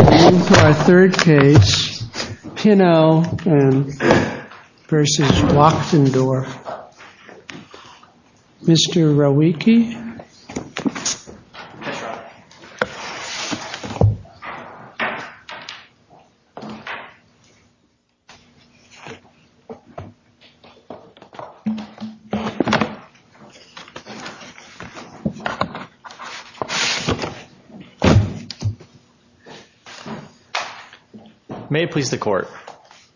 Our third case, Pinno v. Wachtendorf. Mr. Rowiecki. May it please the court.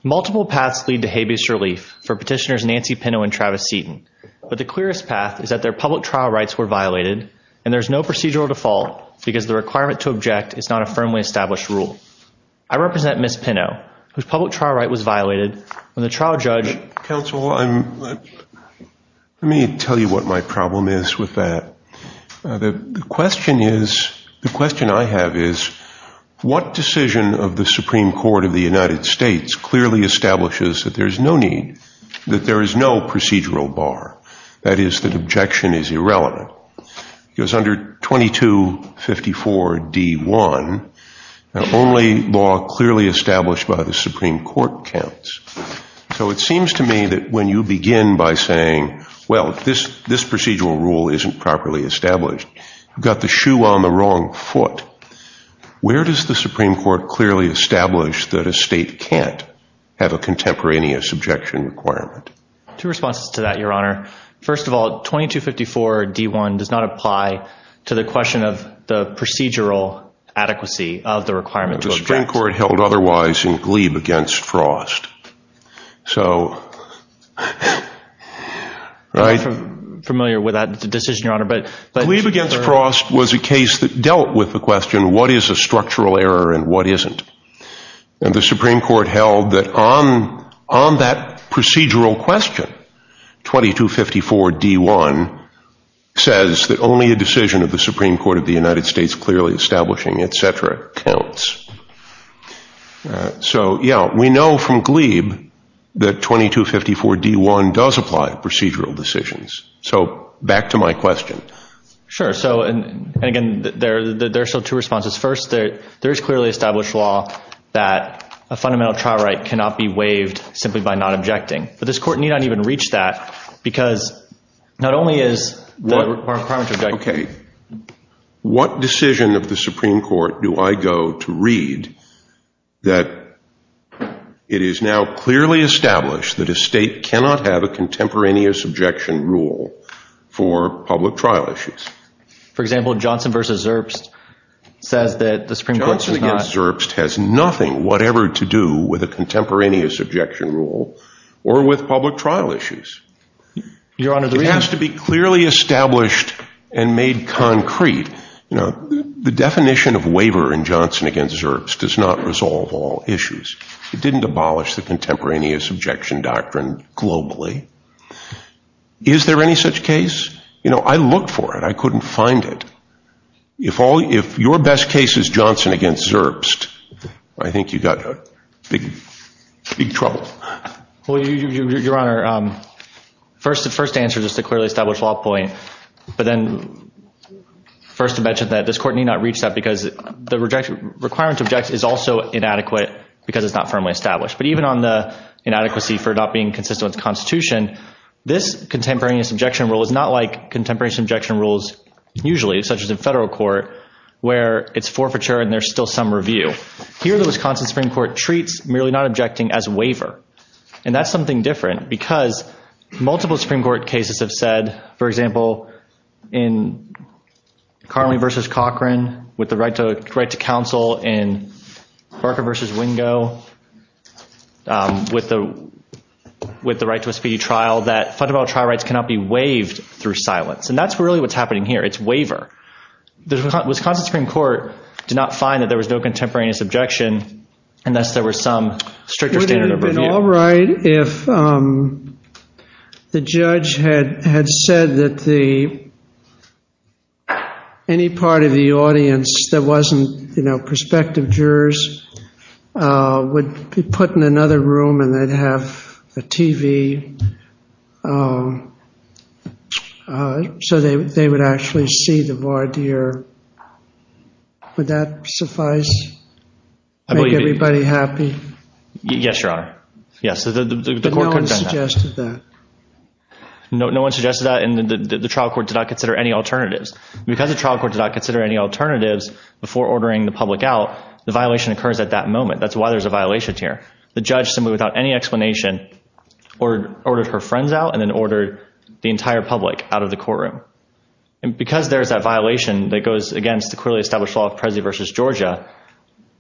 Multiple paths lead to habeas relief for petitioners Nancy Pinno and Travis Seaton, but the clearest path is that their public trial rights were violated and there's no procedural default because the requirement to object is not a firmly established rule. I represent Ms. Pinno, whose public trial right was violated when the trial judge... Counsel, let me tell you what my decision of the Supreme Court of the United States clearly establishes that there is no need, that there is no procedural bar, that is, that objection is irrelevant. Because under 2254 D1, the only law clearly established by the Supreme Court counts. So it seems to me that when you begin by saying, well this this procedural rule isn't properly established, you've got the shoe on the Supreme Court clearly established that a state can't have a contemporaneous objection requirement. Two responses to that, Your Honor. First of all, 2254 D1 does not apply to the question of the procedural adequacy of the requirement to object. The Supreme Court held otherwise in Glebe against Frost. So, right... I'm not familiar with that decision, Your Honor, but... Glebe against Frost was a case that the Supreme Court held that on that procedural question, 2254 D1 says that only a decision of the Supreme Court of the United States clearly establishing, etc., counts. So, yeah, we know from Glebe that 2254 D1 does apply to procedural decisions. So, back to my question. Sure. So, and again, there are still two responses. First, there is clearly established law that a fundamental trial right cannot be waived simply by not objecting. But this Court need not even reach that because not only is... Okay. What decision of the Supreme Court do I go to read that it is now clearly established that a state cannot have a contemporaneous objection rule for public trial issues? For example, Johnson versus Zerbst says that the Supreme Court... Johnson against Zerbst has nothing whatever to do with a contemporaneous objection rule or with public trial issues. Your Honor, the reason... It has to be clearly established and made concrete. You know, the definition of waiver in Johnson against Zerbst does not resolve all issues. It didn't abolish the contemporaneous objection doctrine globally. Is there any such case? You know, I looked for it. I couldn't find it. If your best case is Johnson against Zerbst, I think you've got big trouble. Well, Your Honor, first answer is just a clearly established law point. But then first to mention that this Court need not reach that because the requirement to object is also inadequate because it's not firmly established. But even on the inadequacy for not being consistent with the Constitution, this contemporaneous objection rule is not like contemporaneous objection rules usually, such as in federal court, where it's forfeiture and there's still some review. Here, the Wisconsin Supreme Court treats merely not objecting as waiver. And that's something different because multiple Supreme Court cases have said, for example, in Carley versus Cochran with the right to counsel in Barker versus Wingo with the right to a speedy trial, that fundamental trial rights cannot be waived through silence. And that's really what's happening here. It's waiver. The Wisconsin Supreme Court did not find that there was no contemporaneous objection unless there were some stricter standard of review. Would it have been all right if the judge had said that any part of the audience that wasn't, you know, would be put in another room and they'd have a TV so they would actually see the voir dire? Would that suffice? Make everybody happy? Yes, Your Honor. Yes. No one suggested that. No one suggested that and the trial court did not consider any alternatives. Because the trial court did not consider any alternatives before ordering the public out, the violation occurs at that moment. That's why there's a violation here. The judge, simply without any explanation, ordered her friends out and then ordered the entire public out of the courtroom. And because there's that violation that goes against the clearly established law of Presley versus Georgia,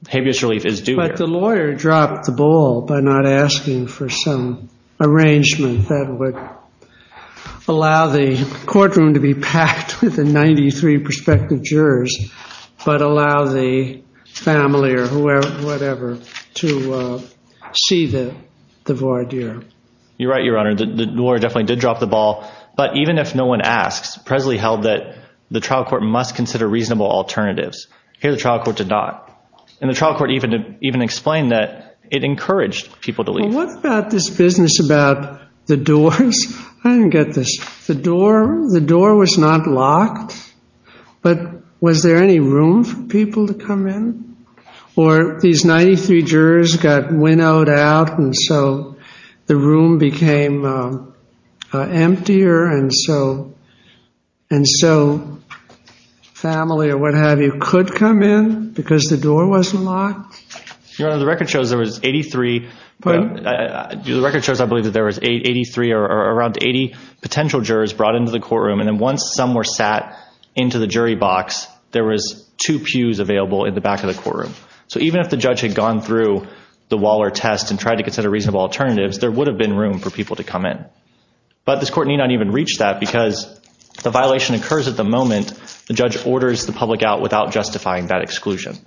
habeas relief is due here. But the lawyer dropped the ball by not asking for some arrangement that would allow the courtroom to be packed with the 93 prospective jurors but allow the family or whoever, whatever, to see the voir dire. You're right, Your Honor. The lawyer definitely did drop the ball. But even if no one asks, Presley held that the trial court must consider reasonable alternatives. Here the trial court did not. And the trial court even explained that it encouraged people to leave. What about this business about the doors? I didn't get this. The door was not locked. But was there any room for people to come in? Or these 93 jurors got winnowed out and so the room became emptier and so family or what have you could come in because the door wasn't locked? Your Honor, the record shows there was 83. The record shows I believe that there was 83 or around 80 potential jurors brought into the courtroom. And then once some were sat into the jury box, there was two pews available in the back of the courtroom. So even if the judge had gone through the Waller test and tried to consider reasonable alternatives, there would have been room for people to come in. But this court need not even reach that because the violation occurs at the moment. The judge orders the public out without justifying that exclusion.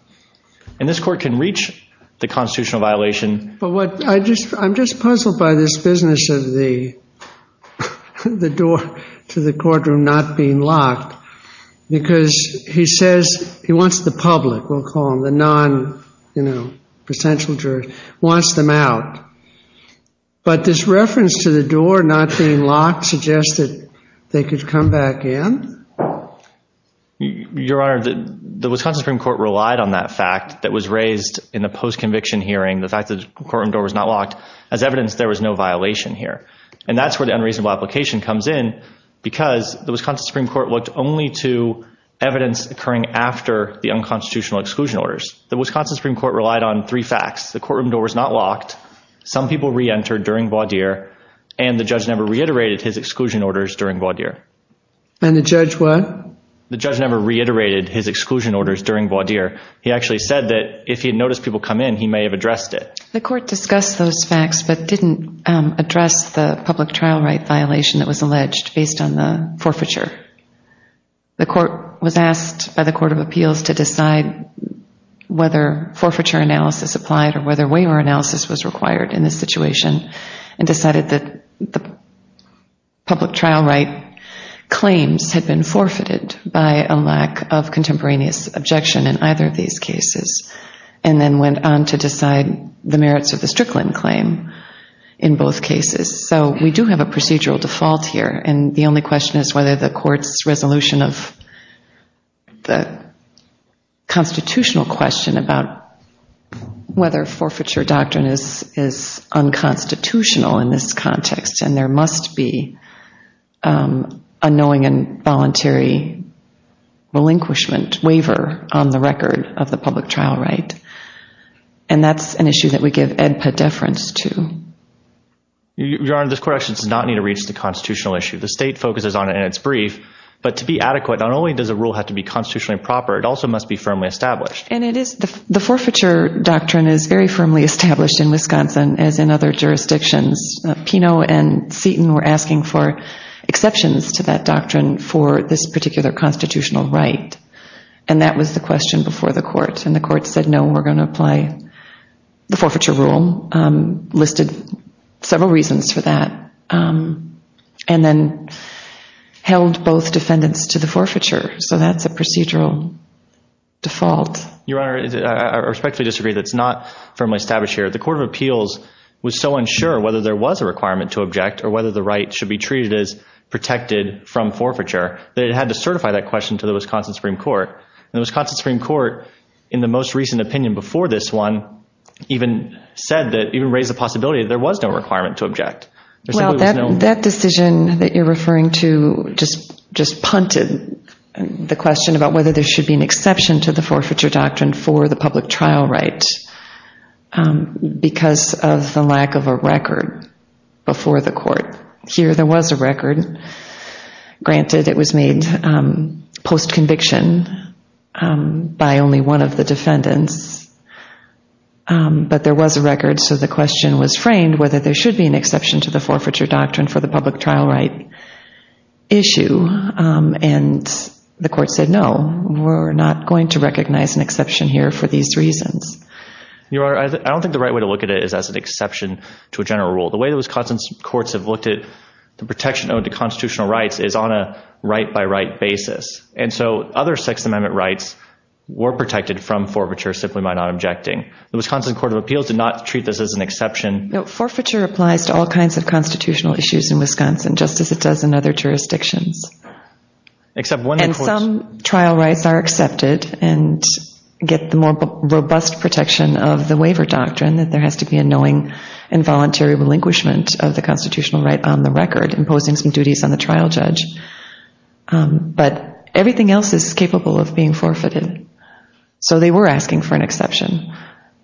And this court can reach the constitutional violation. But I'm just puzzled by this business of the door to the courtroom not being locked because he says he wants the public, we'll call them the non-potential jurors, wants them out. But this reference to the door not being locked suggests that they could come back in? Your Honor, the Wisconsin Supreme Court relied on that fact that was raised in the post-conviction hearing, the fact that the courtroom door was not locked, as evidence there was no violation here. And that's where the unreasonable application comes in because the Wisconsin Supreme Court looked only to evidence occurring after the unconstitutional exclusion orders. The Wisconsin Supreme Court relied on three facts. The courtroom door was not locked. Some people reentered during voir dire and the judge never reiterated his exclusion orders during voir dire. And the judge what? The judge never reiterated his exclusion orders during voir dire. He actually said that if he had noticed people come in, he may have addressed it. The court discussed those facts but didn't address the public trial right violation that was alleged based on the forfeiture. The court was asked by the Court of Appeals to decide whether forfeiture analysis applied or whether waiver analysis was required in this situation and decided that the public trial right claims had been forfeited by a lack of contemporaneous objection in either of these cases and then went on to decide the merits of the Strickland claim in both cases. So we do have a procedural default here, and the only question is whether the court's resolution of the constitutional question about whether forfeiture doctrine is unconstitutional in this context and there must be a knowing and voluntary relinquishment waiver on the record of the public trial right. And that's an issue that we give EDPA deference to. Your Honor, this question does not need to reach the constitutional issue. The state focuses on it in its brief. But to be adequate, not only does a rule have to be constitutionally proper, it also must be firmly established. And it is. The forfeiture doctrine is very firmly established in Wisconsin, as in other jurisdictions. Pino and Seaton were asking for exceptions to that doctrine for this particular constitutional right, and that was the question before the court. And the court said, no, we're going to apply the forfeiture rule, listed several reasons for that, and then held both defendants to the forfeiture. So that's a procedural default. Your Honor, I respectfully disagree that it's not firmly established here. The Court of Appeals was so unsure whether there was a requirement to object or whether the right should be treated as protected from forfeiture that it had to certify that question to the Wisconsin Supreme Court. And the Wisconsin Supreme Court, in the most recent opinion before this one, even said that, even raised the possibility that there was no requirement to object. That decision that you're referring to just punted the question about whether there should be an exception to the forfeiture doctrine for the public trial right because of the lack of a record before the court. Here there was a record. Granted, it was made post-conviction by only one of the defendants, but there was a record, so the question was framed whether there should be an exception to the forfeiture doctrine for the public trial right issue. And the court said, no, we're not going to recognize an exception here for these reasons. Your Honor, I don't think the right way to look at it is as an exception to a general rule. The way the Wisconsin courts have looked at the protection owed to constitutional rights is on a right-by-right basis. And so other Sixth Amendment rights were protected from forfeiture simply by not objecting. The Wisconsin Court of Appeals did not treat this as an exception. No, forfeiture applies to all kinds of constitutional issues in Wisconsin, just as it does in other jurisdictions. And some trial rights are accepted and get the more robust protection of the waiver doctrine, that there has to be a knowing and voluntary relinquishment of the constitutional right on the record, imposing some duties on the trial judge. But everything else is capable of being forfeited. So they were asking for an exception.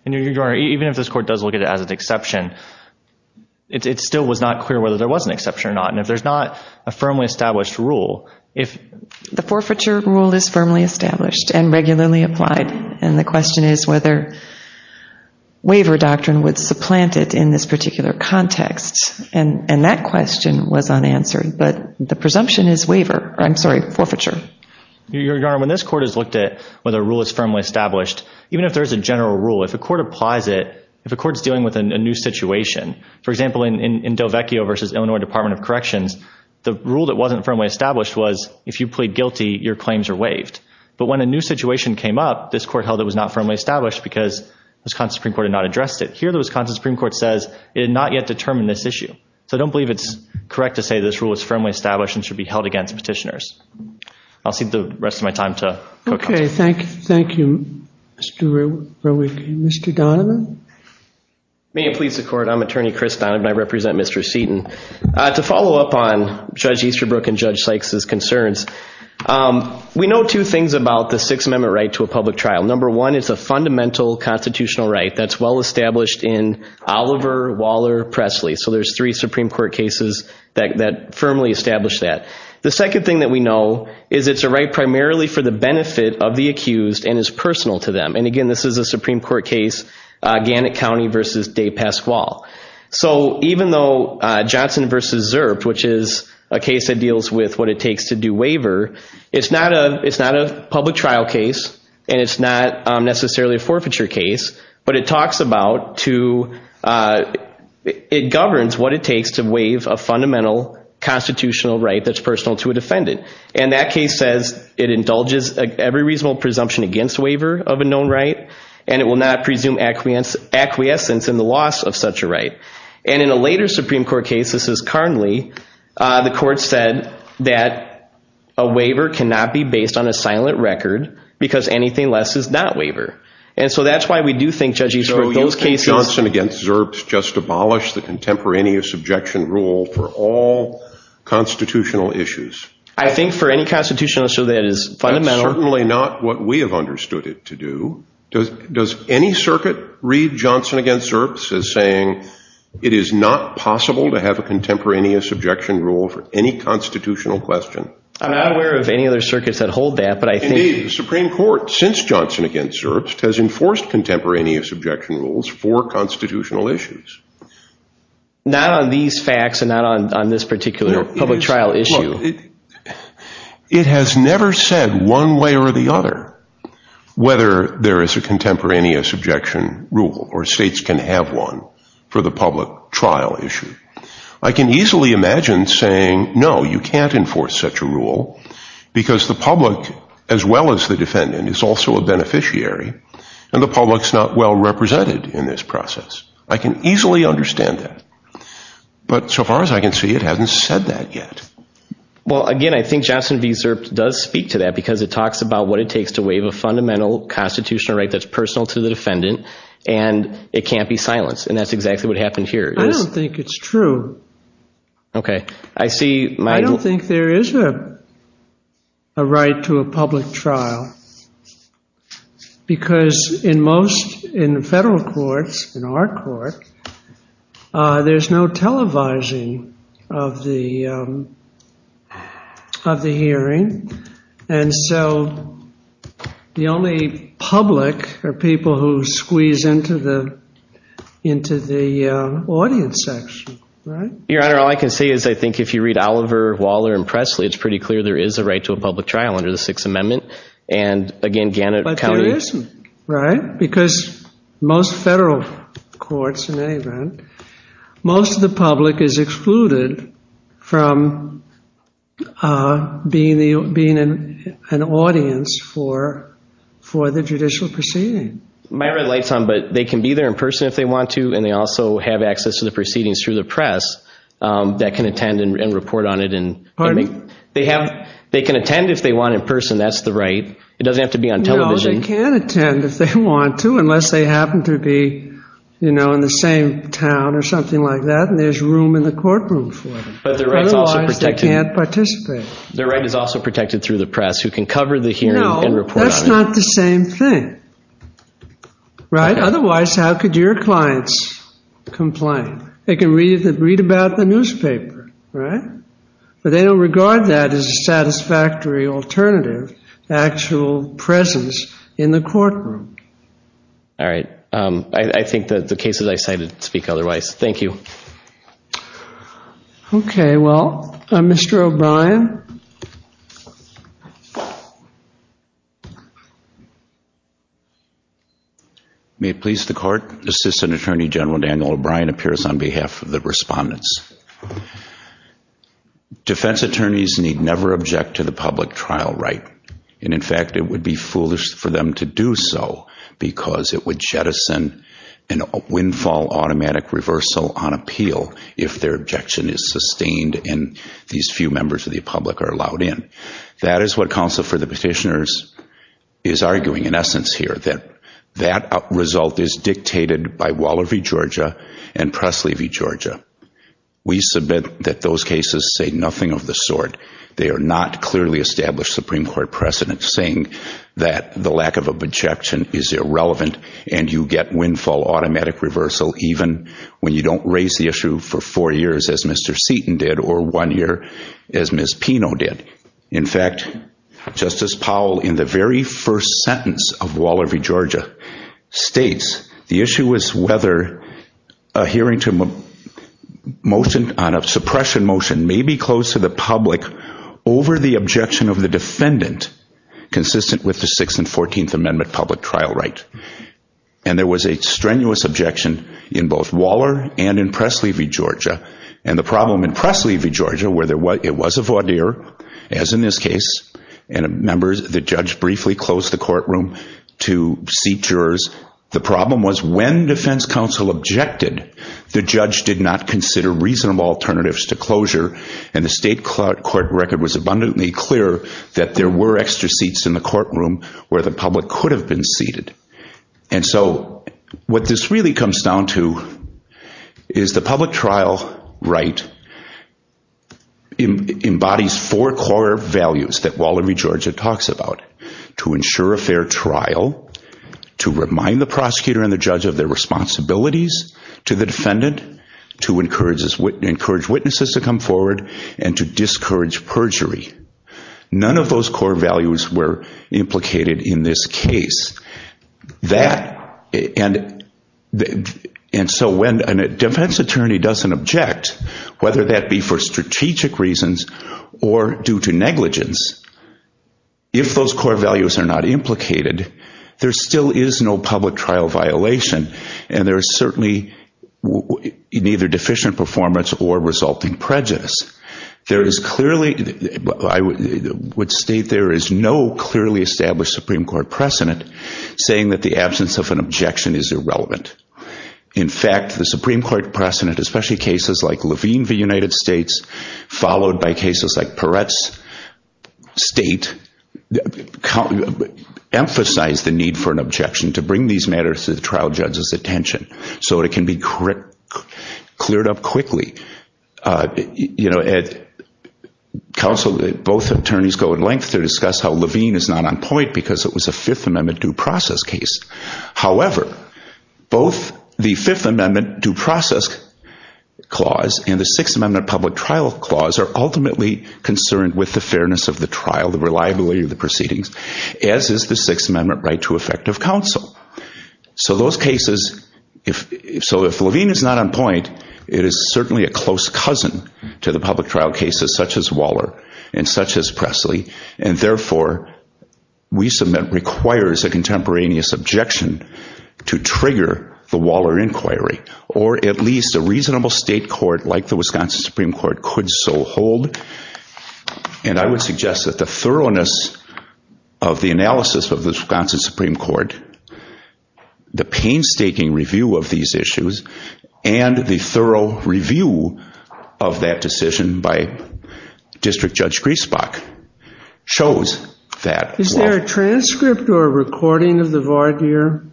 And, Your Honor, even if this court does look at it as an exception, it still was not clear whether there was an exception or not. And if there's not a firmly established rule, if— The forfeiture rule is firmly established and regularly applied. And the question is whether waiver doctrine would supplant it in this particular context. And that question was unanswered. But the presumption is waiver—I'm sorry, forfeiture. Your Honor, when this court has looked at whether a rule is firmly established, even if there is a general rule, if a court applies it, if a court is dealing with a new situation, for example, in Dovecchio v. Illinois Department of Corrections, the rule that wasn't firmly established was, if you plead guilty, your claims are waived. But when a new situation came up, this court held it was not firmly established because Wisconsin Supreme Court had not addressed it. Here, the Wisconsin Supreme Court says it had not yet determined this issue. So I don't believe it's correct to say this rule is firmly established and should be held against petitioners. I'll cede the rest of my time to Court Counsel. Okay, thank you, Mr. Roweck. Mr. Donovan? May it please the Court, I'm Attorney Chris Donovan. I represent Mr. Seaton. To follow up on Judge Easterbrook and Judge Sykes' concerns, we know two things about the Sixth Amendment right to a public trial. Number one, it's a fundamental constitutional right that's well established in Oliver, Waller, Presley. So there's three Supreme Court cases that firmly establish that. The second thing that we know is it's a right primarily for the benefit of the accused and is personal to them. And, again, this is a Supreme Court case, Gannett County v. DePasquale. So even though Johnson v. Zerp, which is a case that deals with what it takes to do waiver, it's not a public trial case, and it's not necessarily a forfeiture case, but it talks about to – it governs what it takes to waive a fundamental constitutional right that's personal to a defendant. And that case says it indulges every reasonable presumption against waiver of a known right, and it will not presume acquiescence in the loss of such a right. And in a later Supreme Court case, this is Carnley, the Court said that a waiver cannot be based on a silent record because anything less is not waiver. And so that's why we do think Judge Easterbrook, those cases – rule for all constitutional issues. I think for any constitutional issue that is fundamental – That's certainly not what we have understood it to do. Does any circuit read Johnson v. Zerp as saying it is not possible to have a contemporaneous objection rule for any constitutional question? I'm not aware of any other circuits that hold that, but I think – Indeed, the Supreme Court, since Johnson v. Zerp, has enforced contemporaneous objection rules for constitutional issues. Not on these facts and not on this particular public trial issue. It has never said one way or the other whether there is a contemporaneous objection rule or states can have one for the public trial issue. I can easily imagine saying, no, you can't enforce such a rule because the public, as well as the defendant, is also a beneficiary and the public is not well represented in this process. I can easily understand that. But so far as I can see, it hasn't said that yet. Well, again, I think Johnson v. Zerp does speak to that because it talks about what it takes to waive a fundamental constitutional right that's personal to the defendant and it can't be silenced. And that's exactly what happened here. I don't think it's true. Okay. I see – I don't think there is a right to a public trial. Because in most, in federal courts, in our court, there's no televising of the hearing. And so the only public are people who squeeze into the audience section, right? Your Honor, all I can say is I think if you read Oliver, Waller, and Presley, it's pretty clear there is a right to a public trial under the Sixth Amendment. And, again, Gannett County – But there isn't, right? Because most federal courts, in any event, most of the public is excluded from being the – being an audience for the judicial proceeding. My red light's on, but they can be there in person if they want to and they also have access to the proceedings through the press that can attend and report on it. Pardon me? They can attend if they want in person. That's the right. It doesn't have to be on television. No, they can attend if they want to unless they happen to be, you know, in the same town or something like that and there's room in the courtroom for them. Otherwise, they can't participate. Their right is also protected through the press who can cover the hearing and report on it. No, that's not the same thing, right? Otherwise, how could your clients complain? They can read about the newspaper, right? But they don't regard that as a satisfactory alternative, the actual presence in the courtroom. All right. I think that the cases I cited speak otherwise. Okay. Well, Mr. O'Brien? May it please the Court. Assistant Attorney General Daniel O'Brien appears on behalf of the respondents. Defense attorneys need never object to the public trial right and, in fact, it would be foolish for them to do so because it would jettison a windfall automatic reversal on appeal if their objection is sustained and these few members of the public are allowed in. That is what counsel for the petitioners is arguing in essence here, that that result is dictated by Waller v. Georgia and Pressley v. Georgia. We submit that those cases say nothing of the sort. They are not clearly established Supreme Court precedents saying that the lack of objection is irrelevant and you get windfall automatic reversal even when you don't raise the issue for four years as Mr. Seaton did or one year as Ms. Pino did. In fact, Justice Powell, in the very first sentence of Waller v. Georgia, states the issue is whether a hearing on a suppression motion may be closed to the public over the objection of the defendant consistent with the Sixth and Fourteenth Amendment public trial right. And there was a strenuous objection in both Waller and in Pressley v. Georgia. And the problem in Pressley v. Georgia where it was a voir dire, as in this case, and the judge briefly closed the courtroom to seat jurors, the problem was when defense counsel objected, the judge did not consider reasonable alternatives to closure and the state court record was abundantly clear that there were extra seats in the courtroom where the public could have been seated. And so what this really comes down to is the public trial right embodies four core values that Waller v. Georgia talks about, to ensure a fair trial, to remind the prosecutor and the judge of their responsibilities to the defendant, to encourage witnesses to come forward, and to discourage perjury. None of those core values were implicated in this case. And so when a defense attorney doesn't object, whether that be for strategic reasons or due to negligence, if those core values are not implicated, there still is no public trial violation and there is certainly neither deficient performance or resulting prejudice. There is clearly, I would state there is no clearly established Supreme Court precedent saying that the absence of an objection is irrelevant. In fact, the Supreme Court precedent, especially cases like Levine v. United States, followed by cases like Peretz, state, emphasized the need for an objection to bring these matters to the trial judge's attention so it can be cleared up quickly. At counsel, both attorneys go at length to discuss how Levine is not on point because it was a Fifth Amendment due process case. However, both the Fifth Amendment due process clause and the Sixth Amendment public trial clause are ultimately concerned with the fairness of the trial, the reliability of the proceedings, as is the Sixth Amendment right to effective counsel. So those cases, so if Levine is not on point, it is certainly a close cousin to the public trial cases such as Waller and such as Presley. And therefore, we submit requires a contemporaneous objection to trigger the Waller inquiry or at least a reasonable state court like the Wisconsin Supreme Court could so hold. And I would suggest that the thoroughness of the analysis of the Wisconsin Supreme Court, the painstaking review of these issues, and the thorough review of that decision by District Judge Griesbach shows that Waller... Is there a transcript or a recording of the voir dire?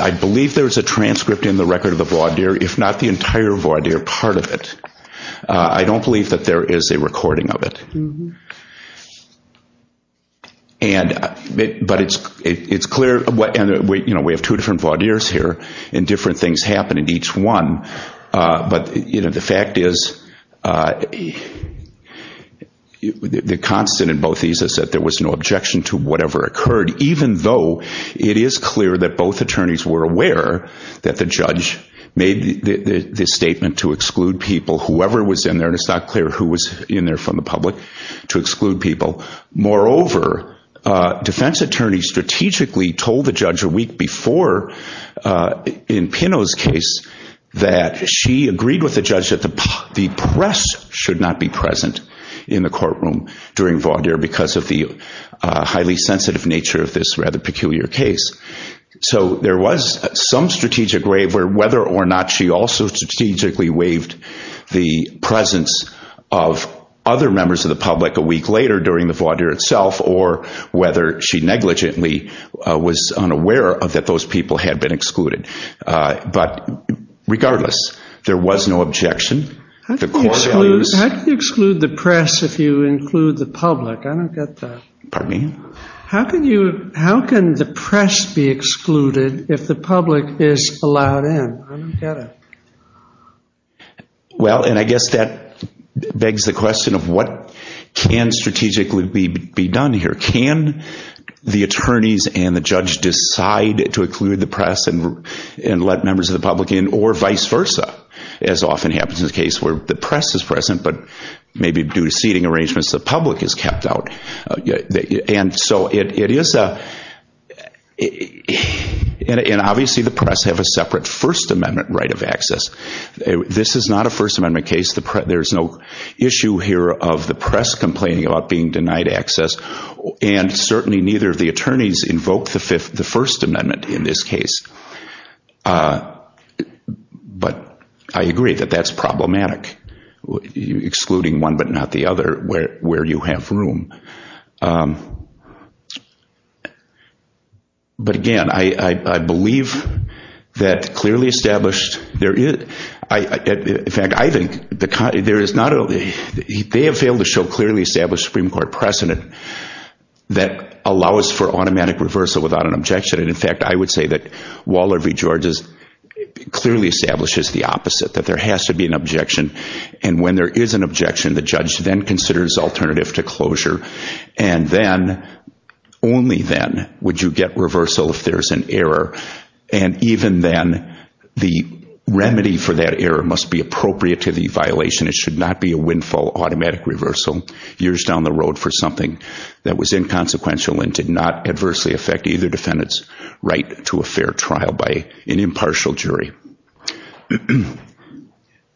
I believe there is a transcript in the record of the voir dire, if not the entire voir dire, part of it. I don't believe that there is a recording of it. But it's clear, you know, we have two different voir dires here and different things happen in each one. But, you know, the fact is, the constant in both these is that there was no objection to the court in relation to whatever occurred, even though it is clear that both attorneys were aware that the judge made the statement to exclude people, whoever was in there, and it's not clear who was in there from the public, to exclude people. Moreover, defense attorneys strategically told the judge a week before in Pinot's case that she agreed with the judge that the press should not be present in the courtroom during voir dire because of the highly sensitive nature of this rather peculiar case. So there was some strategic way where whether or not she also strategically waived the presence of other members of the public a week later during the voir dire itself or whether she negligently was unaware that those people had been excluded. But regardless, there was no objection. How can you exclude the press if you include the public? I don't get that. Pardon me? How can the press be excluded if the public is allowed in? I don't get it. Well, and I guess that begs the question of what can strategically be done here. Can the attorneys and the judge decide to exclude the press and let members of the public in or vice versa as often happens in the case where the press is present but maybe due to seating arrangements the public is kept out. And so it is a – and obviously the press have a separate First Amendment right of access. This is not a First Amendment case. There's no issue here of the press complaining about being denied access and certainly neither of the attorneys invoked the First Amendment in this case. But I agree that that's problematic, excluding one but not the other where you have room. But, again, I believe that clearly established – in fact, I think there is not – they have failed to show clearly established Supreme Court precedent that allows for automatic reversal without an objection. And, in fact, I would say that Waller v. Georges clearly establishes the opposite, that there has to be an objection. And when there is an objection, the judge then considers alternative to closure. And then, only then, would you get reversal if there's an error. And even then, the remedy for that error must be appropriate to the violation. It should not be a windfall automatic reversal years down the road for something that was inconsequential and did not adversely affect either defendant's right to a fair trial by an impartial jury.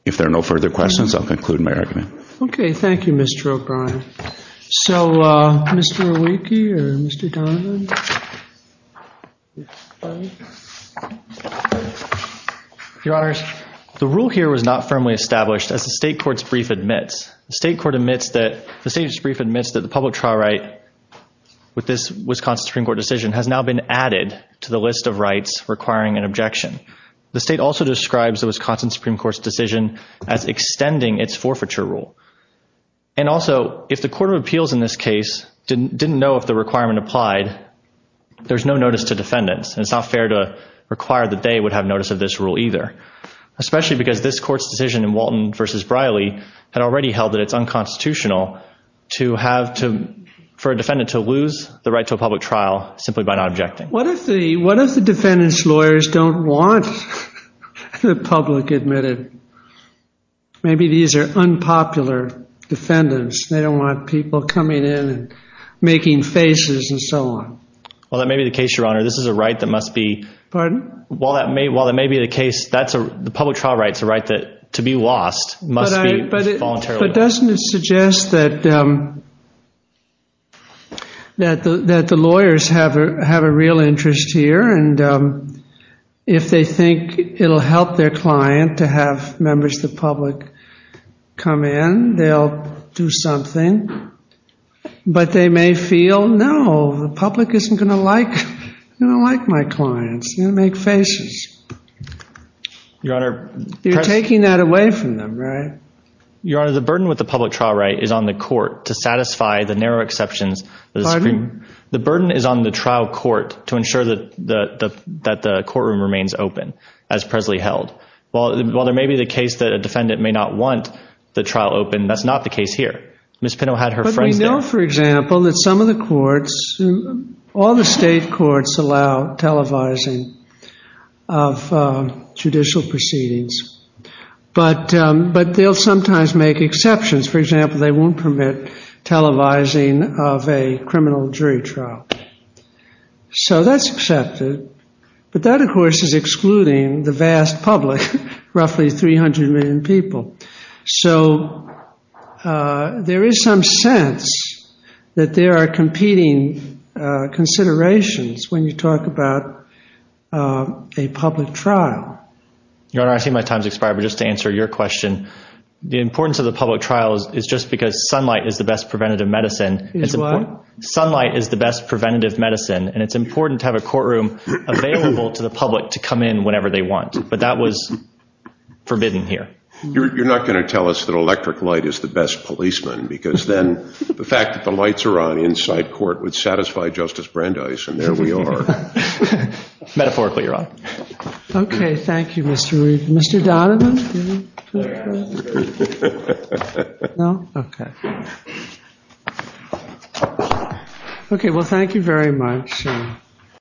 If there are no further questions, I'll conclude my argument. Okay. Thank you, Mr. O'Brien. So, Mr. Awicki or Mr. Donovan. Your Honors, the rule here was not firmly established as the State Court's brief admits. The State Court admits that – the State's brief admits that the public trial right with this Wisconsin Supreme Court decision has now been added to the list of rights requiring an objection. The State also describes the Wisconsin Supreme Court's decision as extending its forfeiture rule. And, also, if the Court of Appeals in this case didn't know if the requirement applied, there's no notice to defendants. And it's not fair to require that they would have notice of this rule either, especially because this Court's decision in Walton v. Briley had already held that it's unconstitutional to have – for a defendant to lose the right to a public trial simply by not objecting. What if the defendants' lawyers don't want the public admitted? Maybe these are unpopular defendants. They don't want people coming in and making faces and so on. Well, that may be the case, Your Honor. This is a right that must be – Pardon? Well, that may be the case. That's a – the public trial right's a right that, to be lost, must be voluntarily lost. But doesn't it suggest that the lawyers have a real interest here? And if they think it'll help their client to have members of the public come in, they'll do something. But they may feel, no, the public isn't going to like my clients. They're going to make faces. Your Honor – You're taking that away from them, right? Your Honor, the burden with the public trial right is on the court to satisfy the narrow exceptions. Pardon? The burden is on the trial court to ensure that the courtroom remains open, as Presley held. While there may be the case that a defendant may not want the trial open, that's not the case here. Ms. Pinto had her phrase there. But we know, for example, that some of the courts – all the state courts allow televising of judicial proceedings. But they'll sometimes make exceptions. For example, they won't permit televising of a criminal jury trial. So that's accepted. But that, of course, is excluding the vast public, roughly 300 million people. So there is some sense that there are competing considerations when you talk about a public trial. Your Honor, I see my time has expired, but just to answer your question, the importance of the public trial is just because sunlight is the best preventative medicine. Is what? Sunlight is the best preventative medicine, and it's important to have a courtroom available to the public to come in whenever they want. But that was forbidden here. You're not going to tell us that electric light is the best policeman, because then the fact that the lights are on inside court would satisfy Justice Brandeis, and there we are. Metaphorically, Your Honor. Okay. Thank you, Mr. Reed. Mr. Donovan? No? Okay. Okay, well, thank you very much.